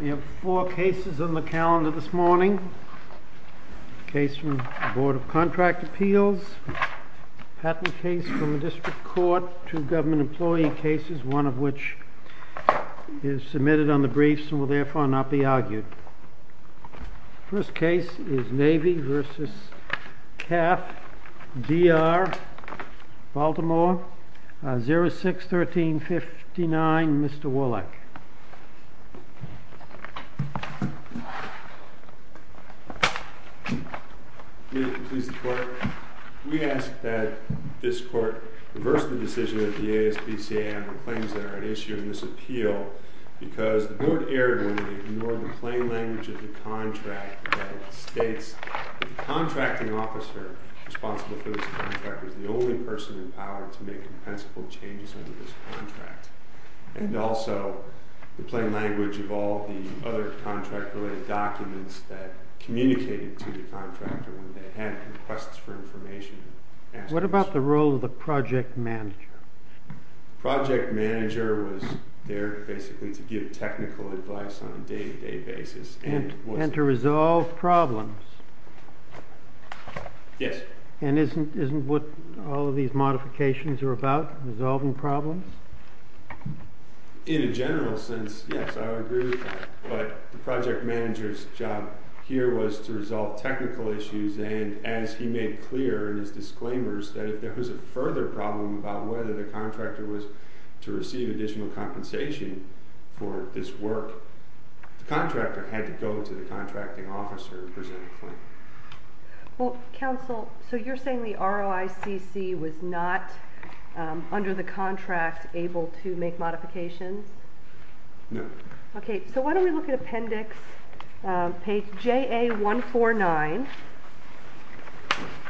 We have four cases on the calendar this morning. A case from the Board of Contract Appeals, a patent case from the District Court, two government employee cases, one of which is Navy v. Cath-Dr, Baltimore, 06-1359, Mr. Woolock. May it please the Court, we ask that this Court reverse the decision that the ASPCA and the claims that are at issue in this appeal because the Board erred when it ignored the plain language of the contract that states the contracting officer responsible for this contract is the only person in power to make compensable changes under this contract. And also the plain language of all the other contract-related documents that communicated to the contractor when they had requests for information. What about the role of the project manager? The project manager was there basically to give technical advice on a day-to-day basis. And to resolve problems. Yes. And isn't what all of these modifications are about, resolving problems? In a general sense, yes, I would agree with that. But the project manager's job here was to resolve technical issues, and as he made clear in his disclaimers that if there was a further problem about whether the contractor was to receive additional compensation for this work, the contractor had to go to the contracting officer and present a claim. Well, counsel, so you're saying the ROICC was not, under the contract, able to make modifications? No. Okay, so why don't we look at appendix, page JA149,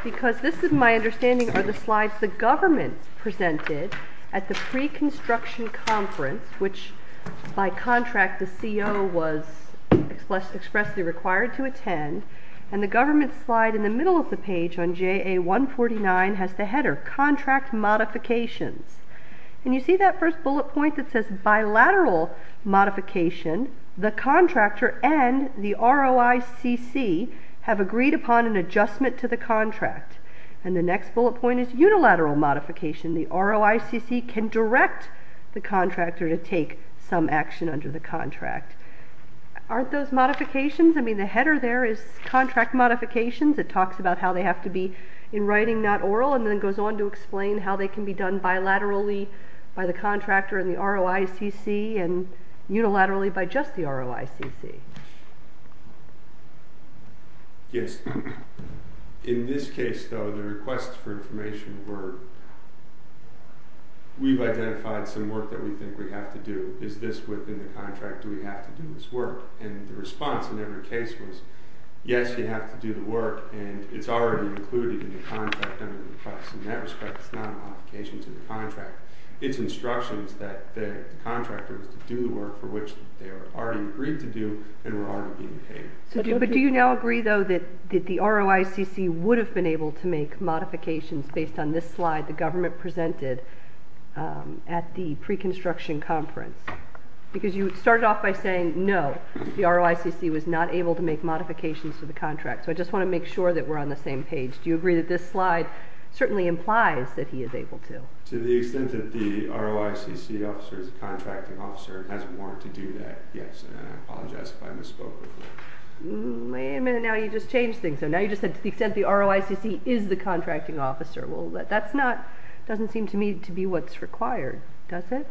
because this is my understanding are the slides the government presented at the pre-construction conference, which by contract the CO was expressly required to attend. And the government slide in the middle of the page on JA149 has the header, contract modifications. And you see that first bullet point that says bilateral modification, the contractor and the ROICC have agreed upon an adjustment to the contract. And the next bullet point is unilateral modification. The ROICC can direct the contractor to take some action under the contract. Aren't those modifications? I mean, the header there is contract modifications. It talks about how they have to be in writing, not oral, and then goes on to explain how they can be done bilaterally by the contractor and the ROICC and unilaterally by just the ROICC. Yes. In this case, though, the requests for information were we've identified some work that we think we have to do. Is this within the contract? Do we have to do this work? And the response in every case was yes, you have to do the work, and it's already included in the contract under the request. In that respect, it's not a modification to the contract. It's instructions that the contractors do the work for which they are already agreed to do and were already being paid. But do you now agree, though, that the ROICC would have been able to make modifications based on this slide the government presented at the pre-construction conference? Because you started off by saying no, the ROICC was not able to make modifications to the contract. So I just want to make sure that we're on the same page. Do you agree that this slide certainly implies that he is able to? To the extent that the ROICC officer is the contracting officer and has a warrant to do that, yes. And I apologize if I misspoke with that. Wait a minute. Now you just changed things. So now you just said to the extent the ROICC is the contracting officer. Well, that's not, doesn't seem to me to be what's required, does it?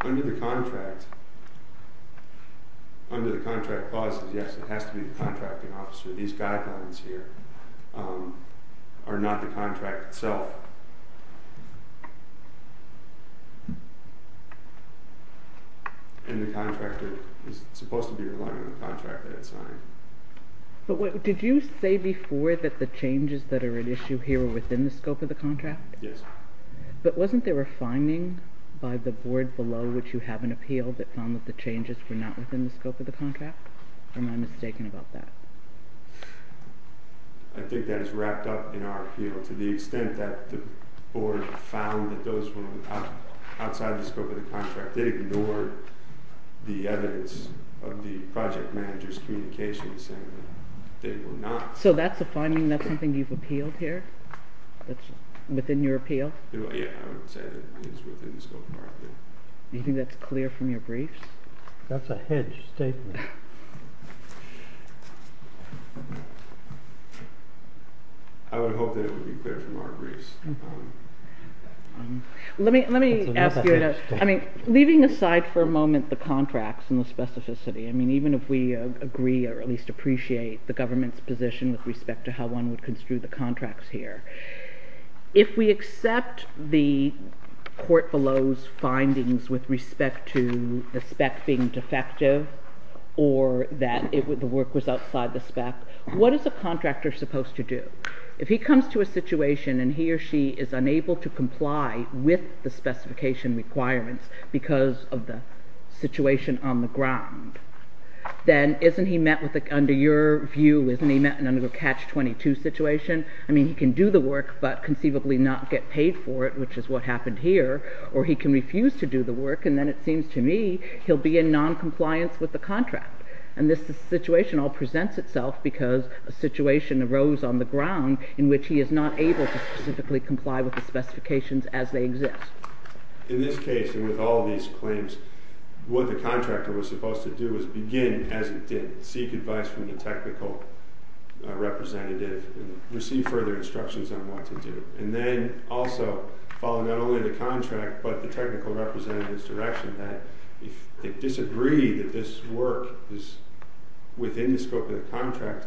Under the contract, under the contract clauses, yes, it has to be the contracting officer. These guidelines here are not the contract itself. And the contractor is supposed to be relying on the contract they had signed. But did you say before that the changes that are at issue here are within the scope of the contract? Yes. But wasn't there a finding by the board below which you have an appeal that found that the changes were not within the scope of the contract? Or am I mistaken about that? I think that is wrapped up in our appeal. To the extent that the board found that those were outside the scope of the contract, they ignored the evidence of the project manager's communications saying that they were not. So that's a finding? That's something you've appealed here? That's within your appeal? Yeah, I would say that it is within the scope of our appeal. Do you think that's clear from your briefs? That's a hedged statement. I would hope that it would be clear from our briefs. Leaving aside for a moment the contracts and the specificity, even if we agree or at least appreciate the government's position with respect to how one would construe the contracts here, if we accept the court below's findings with respect to the spec being defective or that the work was outside the spec, what is a contractor supposed to do? If he comes to a situation and he or she is unable to comply with the specification requirements because of the situation on the ground, then isn't he met with, under your view, isn't he met in a catch-22 situation? I mean, he can do the work but conceivably not get paid for it, which is what happened here, or he can refuse to do the work and then it seems to me he'll be in noncompliance with the contract. And this situation all presents itself because a situation arose on the ground in which he is not able to specifically comply with the specifications as they exist. In this case, and with all these claims, what the contractor was supposed to do was begin as it did, seek advice from the technical representative, receive further instructions on what to do, and then also follow not only the contract but the technical representative's direction that if they disagree that this work is within the scope of the contract,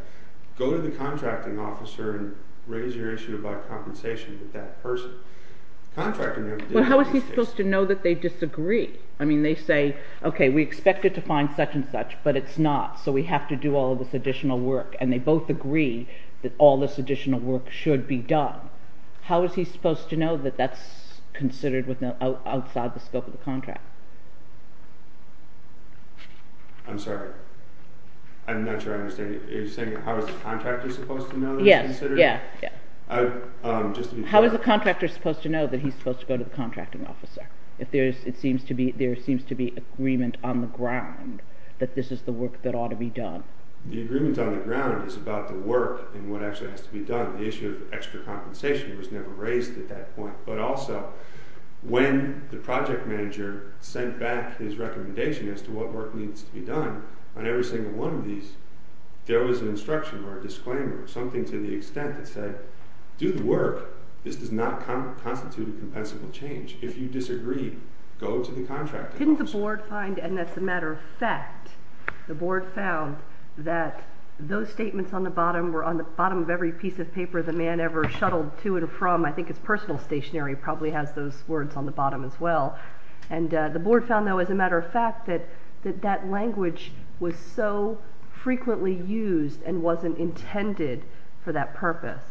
go to the contracting officer and raise your issue about compensation with that person. But how is he supposed to know that they disagree? I mean, they say, okay, we expected to find such and such, but it's not, so we have to do all this additional work, and they both agree that all this additional work should be done. How is he supposed to know that that's considered outside the scope of the contract? I'm sorry, I'm not sure I understand. Are you saying how is the contractor supposed to know that it's considered? Yes, yeah, yeah. How is the contractor supposed to know that he's supposed to go to the contracting officer? If there seems to be agreement on the ground that this is the work that ought to be done. The agreement on the ground is about the work and what actually has to be done. The issue of extra compensation was never raised at that point, but also when the project manager sent back his recommendation as to what work needs to be done on every single one of these, there was an instruction or a disclaimer or something to the extent that said, do the work, this does not constitute a compensable change. If you disagree, go to the contracting officer. Didn't the board find, and that's a matter of fact, the board found that those statements on the bottom were on the bottom of every piece of paper the man ever shuttled to and from. I think his personal stationery probably has those words on the bottom as well. And the board found, though, as a matter of fact, that that language was so frequently used and wasn't intended for that purpose,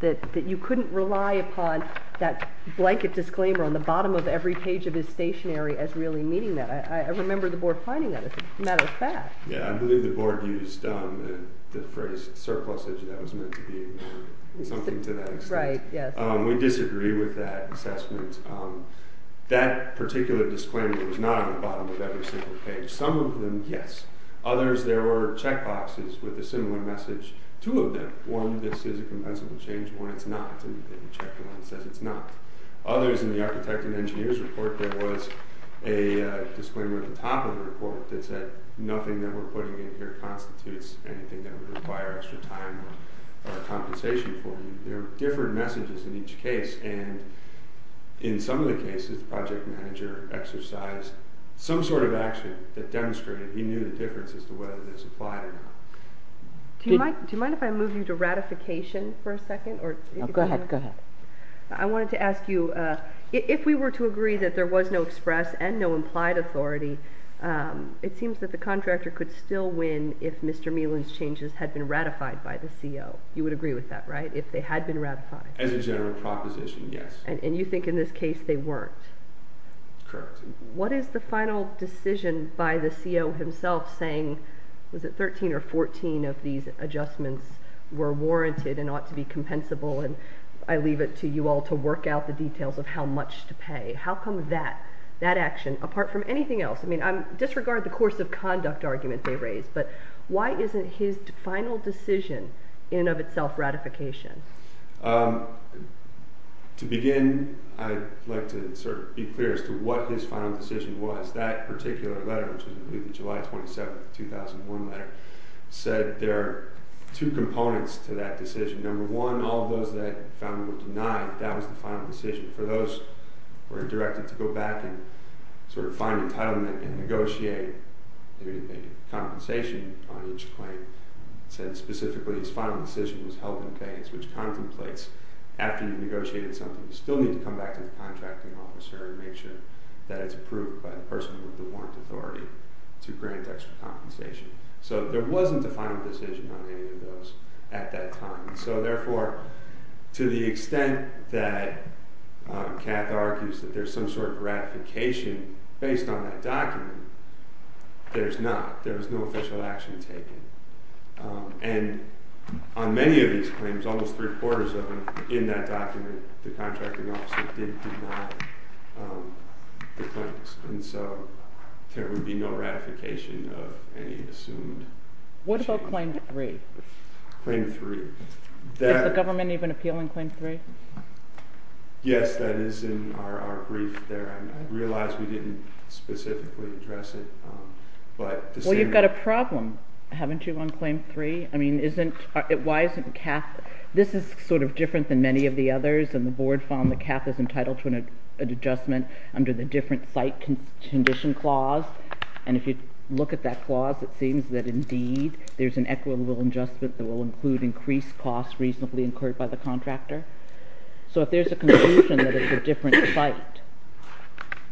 that you couldn't rely upon that blanket disclaimer on the bottom of every page of his stationery as really meaning that. I remember the board finding that as a matter of fact. Yeah, I believe the board used the phrase surplusage, and that was meant to be something to that extent. We disagree with that assessment. That particular disclaimer was not on the bottom of every single page. Some of them, yes. Others, there were check boxes with a similar message. Two of them, one, this is a compensable change, one, it's not. And you check the one that says it's not. Others, in the architect and engineer's report, there was a disclaimer at the top of the report that said nothing that we're putting in here constitutes anything that would require extra time or compensation for you. There were different messages in each case. And in some of the cases, the project manager exercised some sort of action that demonstrated he knew the difference as to whether this applied or not. Do you mind if I move you to ratification for a second? Go ahead. I wanted to ask you, if we were to agree that there was no express and no implied authority, it seems that the contractor could still win if Mr. Melan's changes had been ratified by the CO. You would agree with that, right, if they had been ratified? As a general proposition, yes. And you think in this case they weren't? Correct. What is the final decision by the CO himself saying, was it 13 or 14 of these adjustments were warranted and ought to be compensable? And I leave it to you all to work out the details of how much to pay. How come that action, apart from anything else? I mean, disregard the course of conduct argument they raised, but why isn't his final decision in and of itself ratification? To begin, I'd like to sort of be clear as to what his final decision was. That particular letter, which was a July 27, 2001 letter, said there are two components to that decision. Number one, all of those that found him were denied, that was the final decision. For those who were directed to go back and sort of find entitlement and negotiate a compensation on each claim, it said specifically his final decision was held in vain, which contemplates after you've negotiated something you still need to come back to the contracting officer and make sure that it's approved by the person with the warrant authority to grant extra compensation. So there wasn't a final decision on any of those at that time. So therefore, to the extent that Cath argues that there's some sort of ratification based on that document, there's not. There was no official action taken. And on many of these claims, almost three-quarters of them, in that document the contracting officer did deny the claims. And so there would be no ratification of any assumed... What about Claim 3? Claim 3. Did the government even appeal in Claim 3? Yes, that is in our brief there. I realize we didn't specifically address it. Well, you've got a problem, haven't you, on Claim 3? I mean, why isn't Cath... This is sort of different than many of the others, and the board found that Cath is entitled to an adjustment under the different site condition clause. And if you look at that clause, it seems that indeed there's an equitable adjustment that will include increased costs reasonably incurred by the contractor. So if there's a conclusion that it's a different site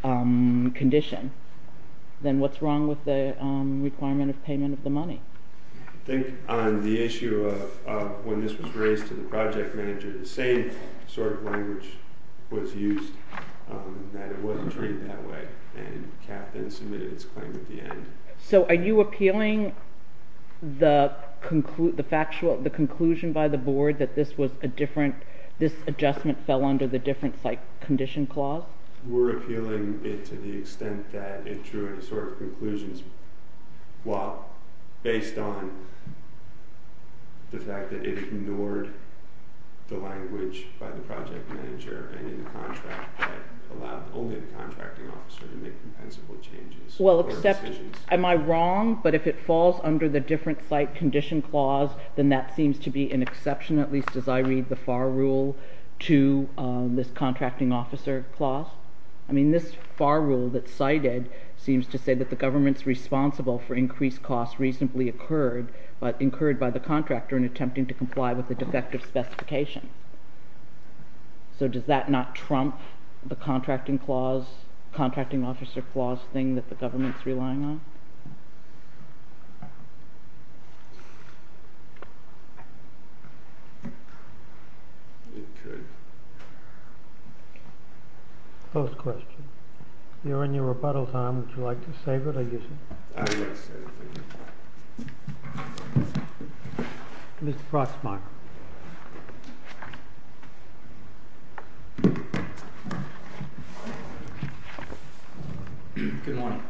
condition, then what's wrong with the requirement of payment of the money? I think on the issue of when this was raised to the project manager, the same sort of language was used, that it wasn't treated that way, and Cath then submitted its claim at the end. So are you appealing the conclusion by the board that this adjustment fell under the different site condition clause? We're appealing it to the extent that it drew any sort of conclusions based on the fact that it ignored the language by the project manager and in the contract that allowed only the contracting officer to make compensable changes or decisions. Well, am I wrong, but if it falls under the different site condition clause, then that seems to be an exception, at least as I read the FAR rule to this contracting officer clause? I mean, this FAR rule that's cited seems to say that the government's responsible for increased costs reasonably incurred by the contractor in attempting to comply with the defective specification. So does that not trump the contracting officer clause thing that the government's relying on? It could. Close question. You're in your rebuttal time. Would you like to save it or use it? I'm going to save it, thank you. Mr. Frostmark. Good morning.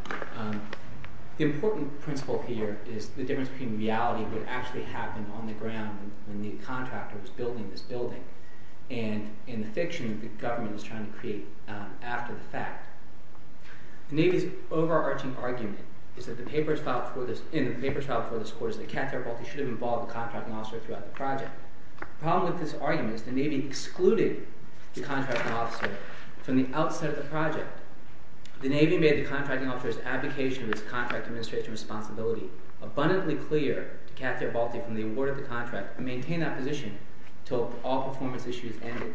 The important principle here is the difference between reality and what actually happened on the ground when the contractor was building this building and in the fiction that the government was trying to create after the fact. The Navy's overarching argument in the papers filed before this court is that Cathar Paltry should have involved the contracting officer throughout the project. The problem with this argument is the Navy excluded the contracting officer from the outset of the project. The Navy made the contracting officer's abdication of his contract administration responsibility abundantly clear to Cathar Paltry from the award of the contract and maintained that position until all performance issues ended.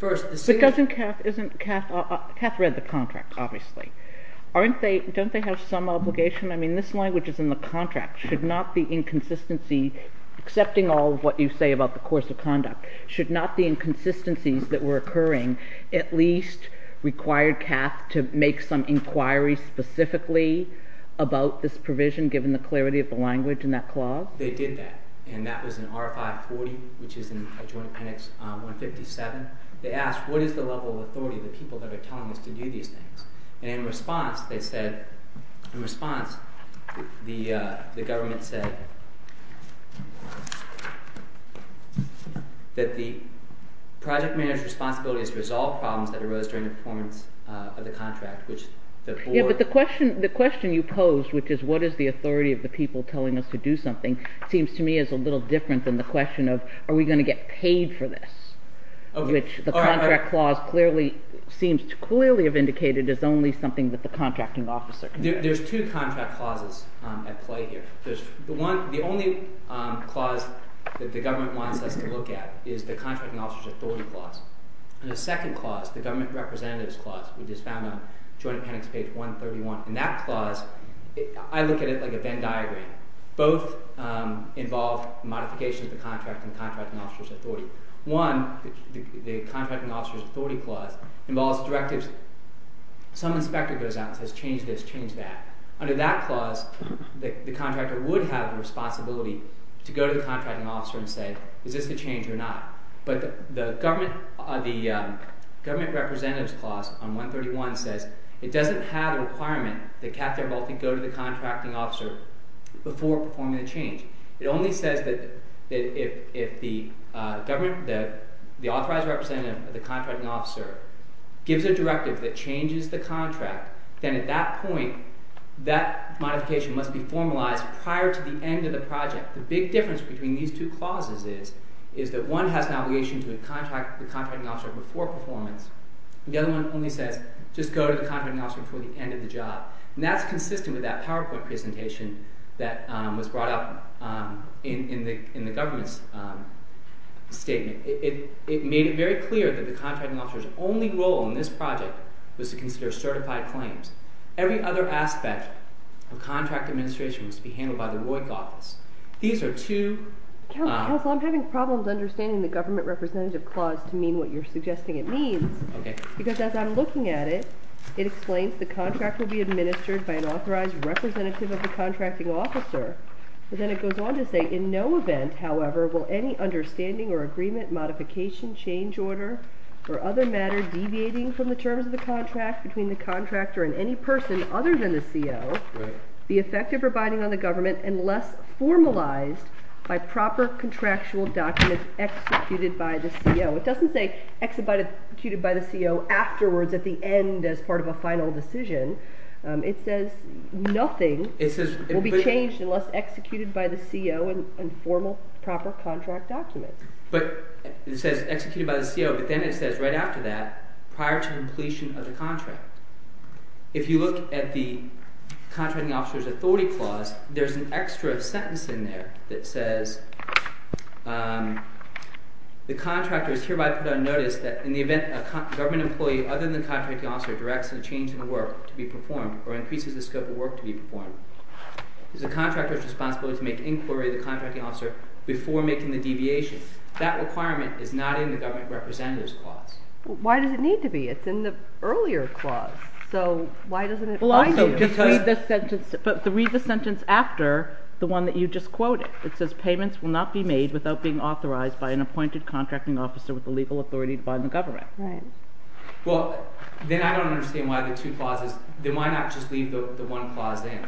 But doesn't CathóCath read the contract, obviously. Don't they have some obligation? I mean, this language is in the contract. Should not the inconsistencyó accepting all of what you say about the course of conductó should not the inconsistencies that were occurring at least require Cath to make some inquiry specifically about this provision, given the clarity of the language in that clause? They did that, and that was in R540, which is in Adjoint Penix 157. They asked, what is the level of authority of the people that are telling us to do these things? And in response, they saidóin response, the government saidó that the project manager's responsibility is to resolve problems that arose during the performance of the contract, which the boardó The question you posed, which is what is the authority of the people telling us to do something, seems to me as a little different than the question of are we going to get paid for this, which the contract clause clearly seems to clearly have indicated as only something that the contracting officer can do. There's two contract clauses at play here. There's the oneóthe only clause that the government wants us to look at is the contracting officer's authority clause. And the second clause, the government representative's clause, which is found on Adjoint Penix page 131. In that clause, I look at it like a Venn diagram. Both involve modifications of the contracting officer's authority. One, the contracting officer's authority clause, involves directives. Some inspector goes out and says, change this, change that. Under that clause, the contractor would have a responsibility to go to the contracting officer and say, is this a change or not? But the government representative's clause on 131 says it doesn't have a requirement that Katherine Volpe go to the contracting officer before performing the change. It only says that if the authorized representative of the contracting officer gives a directive that changes the contract, then at that point, that modification must be formalized prior to the end of the project. The big difference between these two clauses is that one has an obligation to contract the contracting officer before performance. The other one only says, just go to the contracting officer before the end of the job. And that's consistent with that PowerPoint presentation that was brought up in the government's statement. It made it very clear that the contracting officer's only role in this project was to consider certified claims. Every other aspect of contract administration was to be handled by the ROIC office. These are two... Counselor, I'm having problems understanding the government representative clause to mean what you're suggesting it means. Because as I'm looking at it, it explains the contract will be administered by an authorized representative of the contracting officer. But then it goes on to say, in no event, however, will any understanding or agreement, modification, change order, or other matter deviating from the terms of the contract between the contractor and any person other than the CO the effect of abiding on the government unless formalized by proper contractual documents executed by the CO. It doesn't say executed by the CO afterwards at the end as part of a final decision. It says nothing will be changed unless executed by the CO in formal proper contract documents. But it says executed by the CO, but then it says right after that, prior to completion of the contract. If you look at the contracting officer's authority clause, there's an extra sentence in there that says, the contractor is hereby put on notice that in the event a government employee other than the contracting officer directs a change in work to be performed or increases the scope of work to be performed, it is the contractor's responsibility to make inquiry to the contracting officer before making the deviation. That requirement is not in the government representative's clause. Why does it need to be? It's in the earlier clause. So why doesn't it bind you? Read the sentence after the one that you just quoted. It says payments will not be made without being authorized by an appointed contracting officer with the legal authority to bind the government. Right. Well, then I don't understand why the two clauses, then why not just leave the one clause in?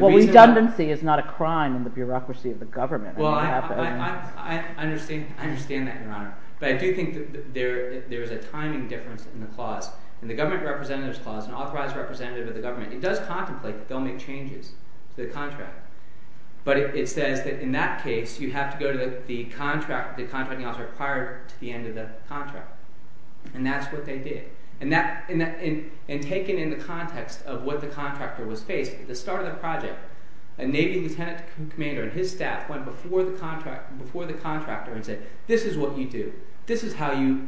Well, redundancy is not a crime in the bureaucracy of the government. I understand that, Your Honor. But I do think that there is a timing difference in the clause. In the government representative's clause, an authorized representative of the government, it does contemplate that they'll make changes to the contract. But it says that in that case, you have to go to the contracting officer prior to the end of the contract. And that's what they did. And taken in the context of what the contractor was faced, at the start of the project, a Navy lieutenant commander and his staff went before the contractor and said, this is what you do. This is how you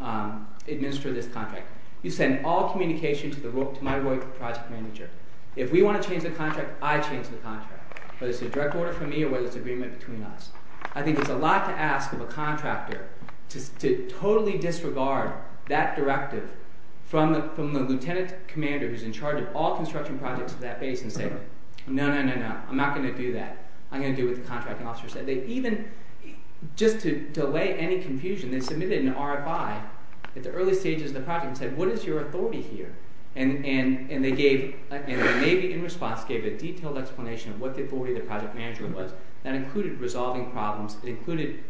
administer this contract. You send all communication to my project manager. If we want to change the contract, I change the contract, whether it's a direct order from me or whether it's agreement between us. I think there's a lot to ask of a contractor to totally disregard that directive from the lieutenant commander who's in charge of all construction projects at that base and say, no, no, no, no, I'm not going to do that. I'm going to do what the contracting officer said. They even, just to delay any confusion, they submitted an RFI at the early stages of the project and said, what is your authority here? And the Navy, in response, gave a detailed explanation of what the authority of the project manager was. That included resolving problems. It included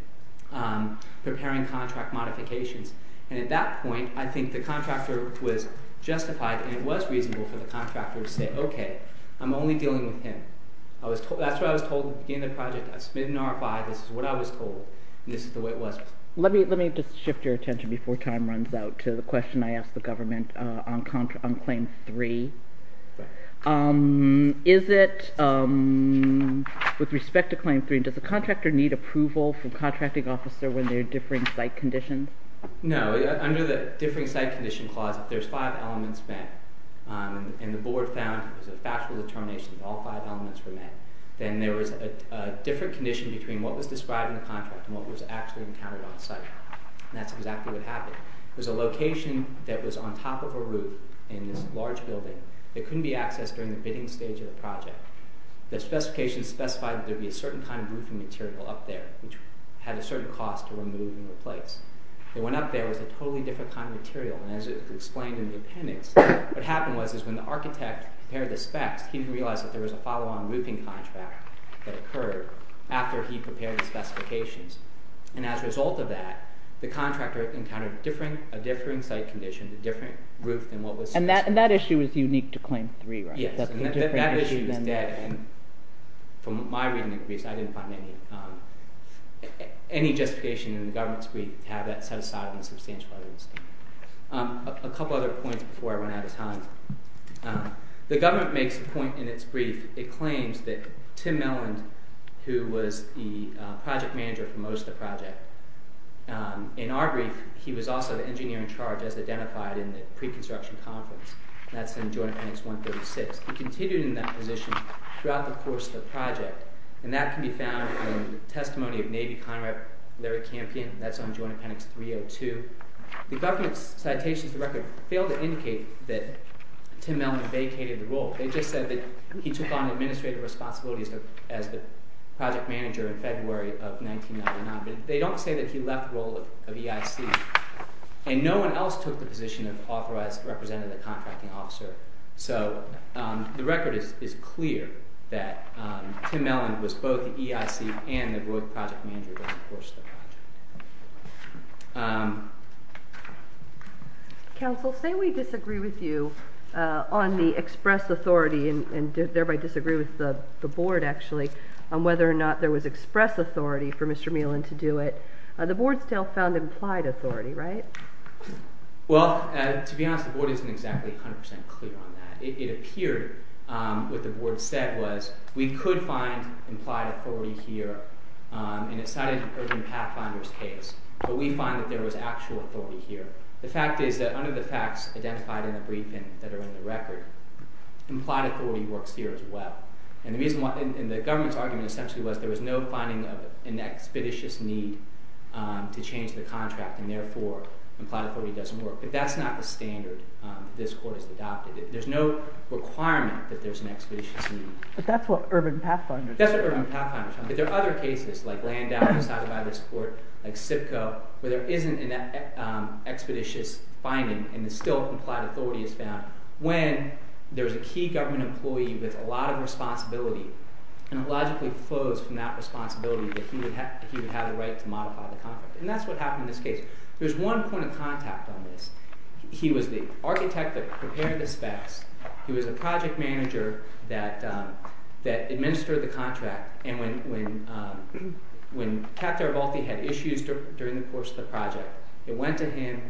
preparing contract modifications. And at that point, I think the contractor was justified and it was reasonable for the contractor to say, okay, I'm only dealing with him. That's what I was told at the beginning of the project. I submitted an RFI. This is what I was told, and this is the way it was. Let me just shift your attention before time runs out to the question I asked the government on Claim 3. Is it, with respect to Claim 3, does the contractor need approval from the contracting officer when they're differing site conditions? No. Under the differing site condition clause, if there's five elements met and the board found it was a factual determination that all five elements were met, then there was a different condition between what was described in the contract and what was actually encountered on site. And that's exactly what happened. There was a location that was on top of a roof in this large building that couldn't be accessed during the bidding stage of the project. The specifications specified that there would be a certain kind of roofing material up there, which had a certain cost to remove and replace. The one up there was a totally different kind of material, and as explained in the appendix, what happened was when the architect prepared the specs, he didn't realize that there was a follow-on roofing contract that occurred after he prepared the specifications. And as a result of that, the contractor encountered a differing site condition, a different roof than what was specified. And that issue is unique to Claim 3, right? Yes, and that issue is dead. And from my reading of the briefs, I didn't find any justification in the government's brief to have that set aside on the substantial other than the statement. A couple other points before I run out of time. The government makes a point in its brief. It claims that Tim Melland, who was the project manager for most of the project, in our brief, he was also the engineer in charge, as identified in the pre-construction conference. That's in Joint Appendix 136. He continued in that position throughout the course of the project, and that can be found in the testimony of Navy Conrad Larry Campion. That's on Joint Appendix 302. The government's citations to the record fail to indicate that Tim Melland vacated the role. They just said that he took on administrative responsibilities as the project manager in February of 1999. But they don't say that he left the role of EIC. And no one else took the position of authorized representative contracting officer. So the record is clear that Tim Melland was both the EIC and the growth project manager during the course of the project. Um... Counsel, say we disagree with you on the express authority, and thereby disagree with the board, actually, on whether or not there was express authority for Mr. Melland to do it. The board still found implied authority, right? Well, to be honest, the board isn't exactly 100% clear on that. It appeared what the board said was we could find implied authority here, and it's not in an urban pathfinder's case. But we find that there was actual authority here. The fact is that, under the facts identified in the briefing that are in the record, implied authority works here as well. And the government's argument essentially was there was no finding of an expeditious need to change the contract, and therefore, implied authority doesn't work. But that's not the standard this court has adopted. There's no requirement that there's an expeditious need. But that's what urban pathfinders... That's what urban pathfinders... But there are other cases, like Landau, decided by this court, like SIPCO, where there isn't an expeditious finding, and the still-complied authority is found when there's a key government employee with a lot of responsibility, and it logically flows from that responsibility that he would have the right to modify the contract. And that's what happened in this case. There's one point of contact on this. He was the architect that prepared the specs. He was a project manager that administered the contract. And when Captain Arvalti had issues during the course of the project, it went to him,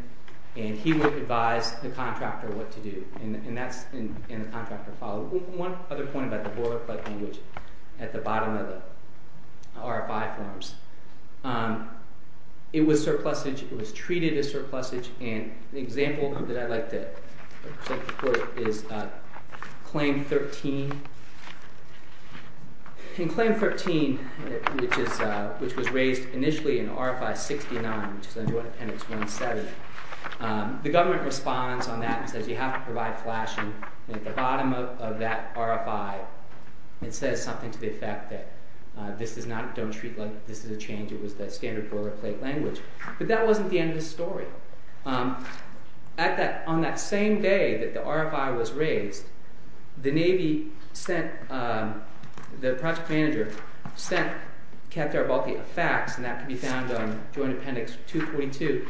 and he would advise the contractor what to do. And the contractor followed. One other point about the boilerplate language at the bottom of the RFI forms. It was surplusage. It was treated as surplusage. And the example that I'd like to quote is Claim 13. In Claim 13, which was raised initially in RFI 69, which is under Ordinance 17, the government responds on that and says you have to provide flashing. And at the bottom of that RFI, it says something to the effect that this is a change. It was the standard boilerplate language. But that wasn't the end of the story. On that same day that the RFI was raised, the project manager sent Captain Arvalti a fax, and that can be found on Joint Appendix 242.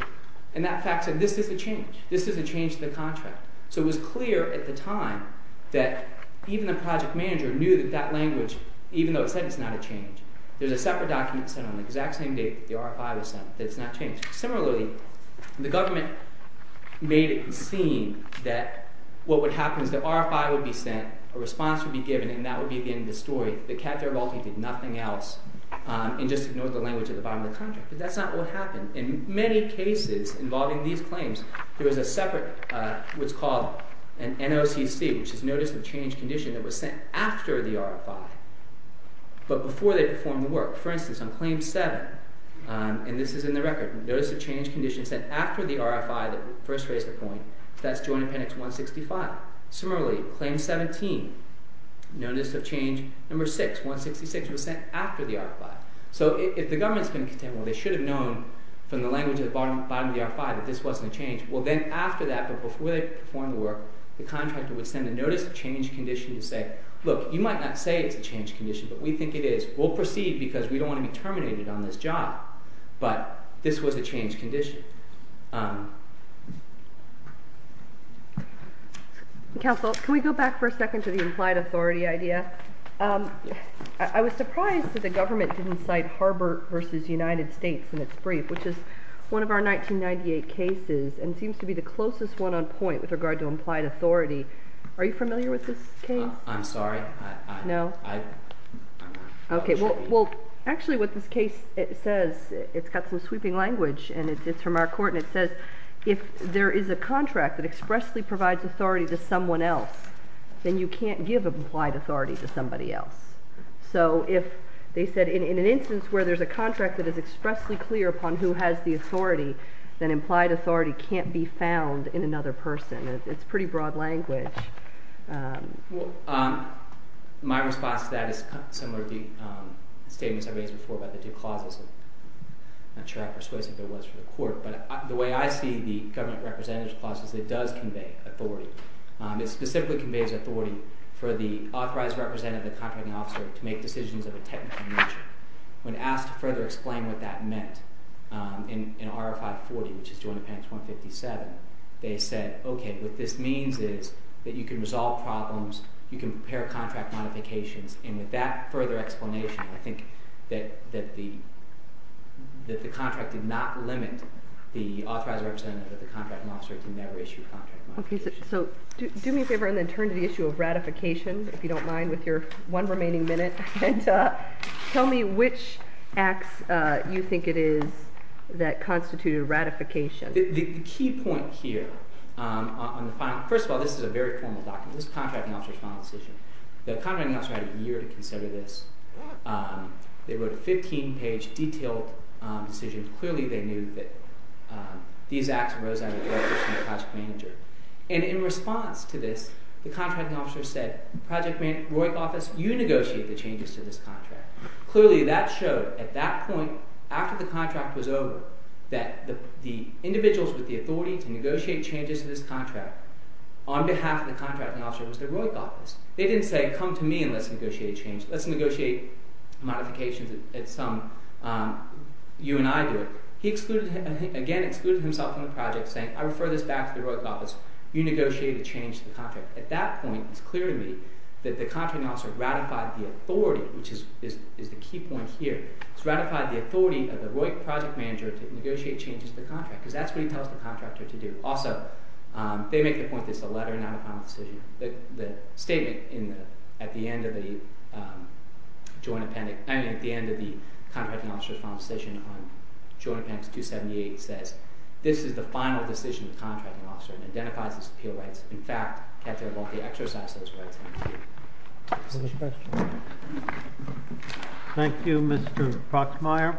And that fax said this is a change. This is a change to the contract. So it was clear at the time that even the project manager knew that that language, even though it said it's not a change, there's a separate document sent on the exact same day that the RFI was sent that it's not changed. Similarly, the government made it seem that what would happen is the RFI would be sent, a response would be given, and that would be the end of the story. But Captain Arvalti did nothing else and just ignored the language at the bottom of the contract. But that's not what happened. In many cases involving these claims, there was a separate, what's called an NOCC, which is Notice of Change Condition, that was sent after the RFI, but before they performed the work. For instance, on Claim 7, and this is in the record, Notice of Change Condition sent after the RFI that first raised the point. That's Joint Appendix 165. Similarly, Claim 17, Notice of Change No. 6, 166, was sent after the RFI. So if the government's been content, well, they should have known from the language at the bottom of the RFI that this wasn't a change. Well, then after that, but before they performed the work, the contractor would send a Notice of Change Condition to say, look, you might not say it's a change condition, but we think it is. We'll proceed because we don't want to be terminated on this job, but this was a change condition. Counsel, can we go back for a second to the implied authority idea? I was surprised that the government didn't cite Harbor v. United States in its brief, which is one of our 1998 cases, and seems to be the closest one on point with regard to implied authority. Are you familiar with this case? I'm sorry. No. OK, well, actually what this case says, it's got some sweeping language, and it's from our court, and it says if there is a contract that expressly provides authority to someone else, then you can't give implied authority to somebody else. So if they said in an instance where there's a contract that is expressly clear upon who has the authority, then implied authority can't be found in another person. It's pretty broad language. Well, my response to that is similar to the statements I raised before about the two clauses. I'm not sure how persuasive it was for the court, but the way I see the government representative's clause is it does convey authority. It specifically conveys authority for the authorized representative, the contracting officer, to make decisions of a technical nature. When asked to further explain what that meant in RFI 40, which is joint appendix 157, they said, OK, what this means is that you can resolve problems, you can prepare contract modifications. And with that further explanation, I think that the contract did not limit the authorized representative of the contracting officer to never issue a contract modification. So do me a favor and then turn to the issue of ratification, if you don't mind, with your one remaining minute. Tell me which acts you think it is that constitute a ratification. The key point here on the final, first of all, this is a very formal document. This is the contracting officer's final decision. The contracting officer had a year to consider this. They wrote a 15-page, detailed decision. Clearly, they knew that these acts rose out of the air between the project manager. And in response to this, the contracting officer said, project manager, Roy's office, you negotiate the changes to this contract. Clearly, that showed at that point, after the contract was over, that the individuals with the authority to negotiate changes to this contract on behalf of the contracting officer was the Roy's office. They didn't say, come to me and let's negotiate a change. Let's negotiate modifications at some, you and I do it. He excluded himself from the project, saying, I refer this back to the Roy's office. You negotiate a change to the contract. At that point, it's clear to me that the contracting officer ratified the authority, which is the key point here. He's ratified the authority of the Roy project manager to negotiate changes to the contract, because that's what he tells the contractor to do. Also, they make the point that it's a letter, not a final decision. The statement at the end of the contracting officer's final decision on Joint Appendix 278 says, this is the final decision of the contracting officer and identifies its appeal rights. In fact, Katya Volpe exercised those rights. Is there a question? Thank you, Mr. Proxmire.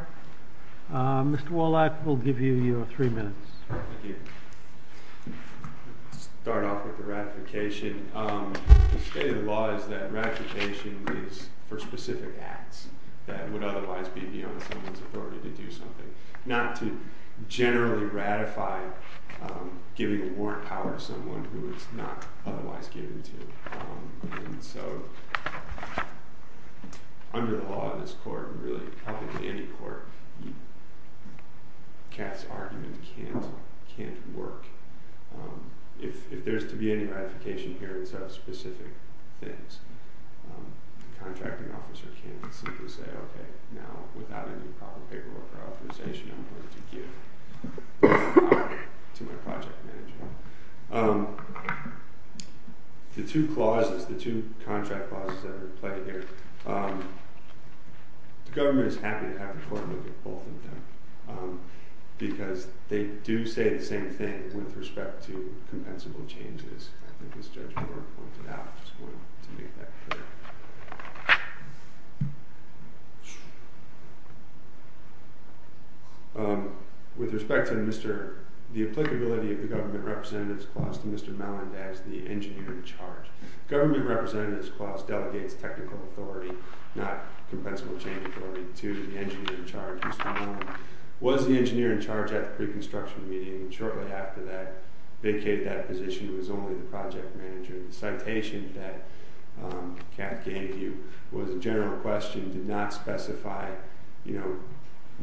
Mr. Wallach, we'll give you your three minutes. Thank you. I'll start off with the ratification. The state of the law is that ratification is for specific acts that would otherwise be beyond someone's authority to do something. Not to generally ratify giving a warrant power to someone who it's not otherwise given to. And so under the law in this court, and really probably any court, Kat's argument can't work. If there's to be any ratification here instead of specific things, the contracting officer can simply say, OK, now, without any proper paperwork or authorization, I'm going to give this power to my project manager. The two clauses, the two contract clauses that are in play here, the government is happy to have the court look at both of them because they do say the same thing with respect to compensable changes. I think as Judge Brewer pointed out, I'm just going to make that clear. Thank you. With respect to the applicability of the government representative's clause to Mr. Malland as the engineer in charge. Government representative's clause delegates technical authority, not compensable change authority, to the engineer in charge. Mr. Malland was the engineer in charge at the pre-construction meeting. Shortly after that, vacated that position. He was only the project manager. The citation that Kat gave you was a general question. It did not specify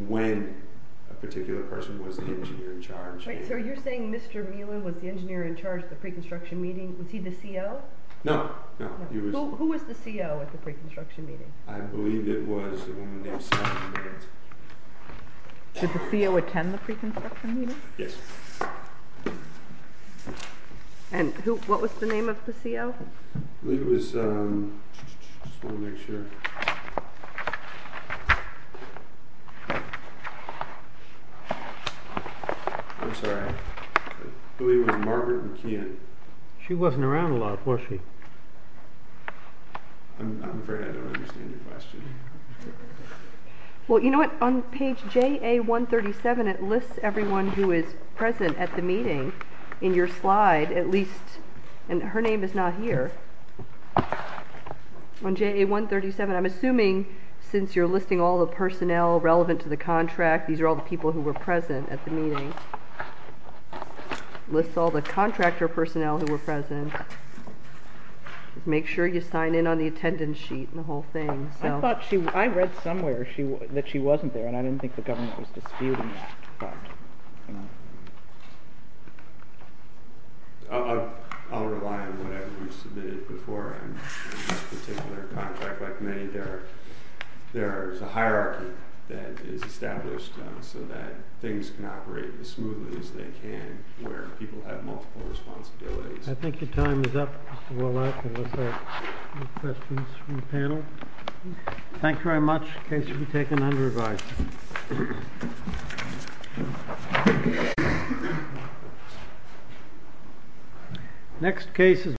when a particular person was the engineer in charge. So you're saying Mr. Malland was the engineer in charge at the pre-construction meeting? Was he the CO? No. Who was the CO at the pre-construction meeting? I believe it was the woman named Sally Millett. Did the CO attend the pre-construction meeting? Yes. And what was the name of the CO? I believe it was Margaret McKeon. She wasn't around a lot, was she? I'm afraid I don't understand your question. Well, you know what? On page JA-137, it lists everyone who is present at the meeting in your slide, at least. And her name is not here. On JA-137, I'm assuming since you're listing all the personnel relevant to the contract, these are all the people who were present at the meeting. It lists all the contractor personnel who were present. Just make sure you sign in on the attendance sheet and the whole thing. I thought I read somewhere that she wasn't there, and I didn't think the government was disputing that. I'll rely on whatever you submitted before. In this particular contract, like many, there is a hierarchy that is established so that things can operate as smoothly as they can, where people have multiple responsibilities. I think your time is up, Mr. Wallach. Any questions from the panel? Thank you very much. Case to be taken under revised. Next case is.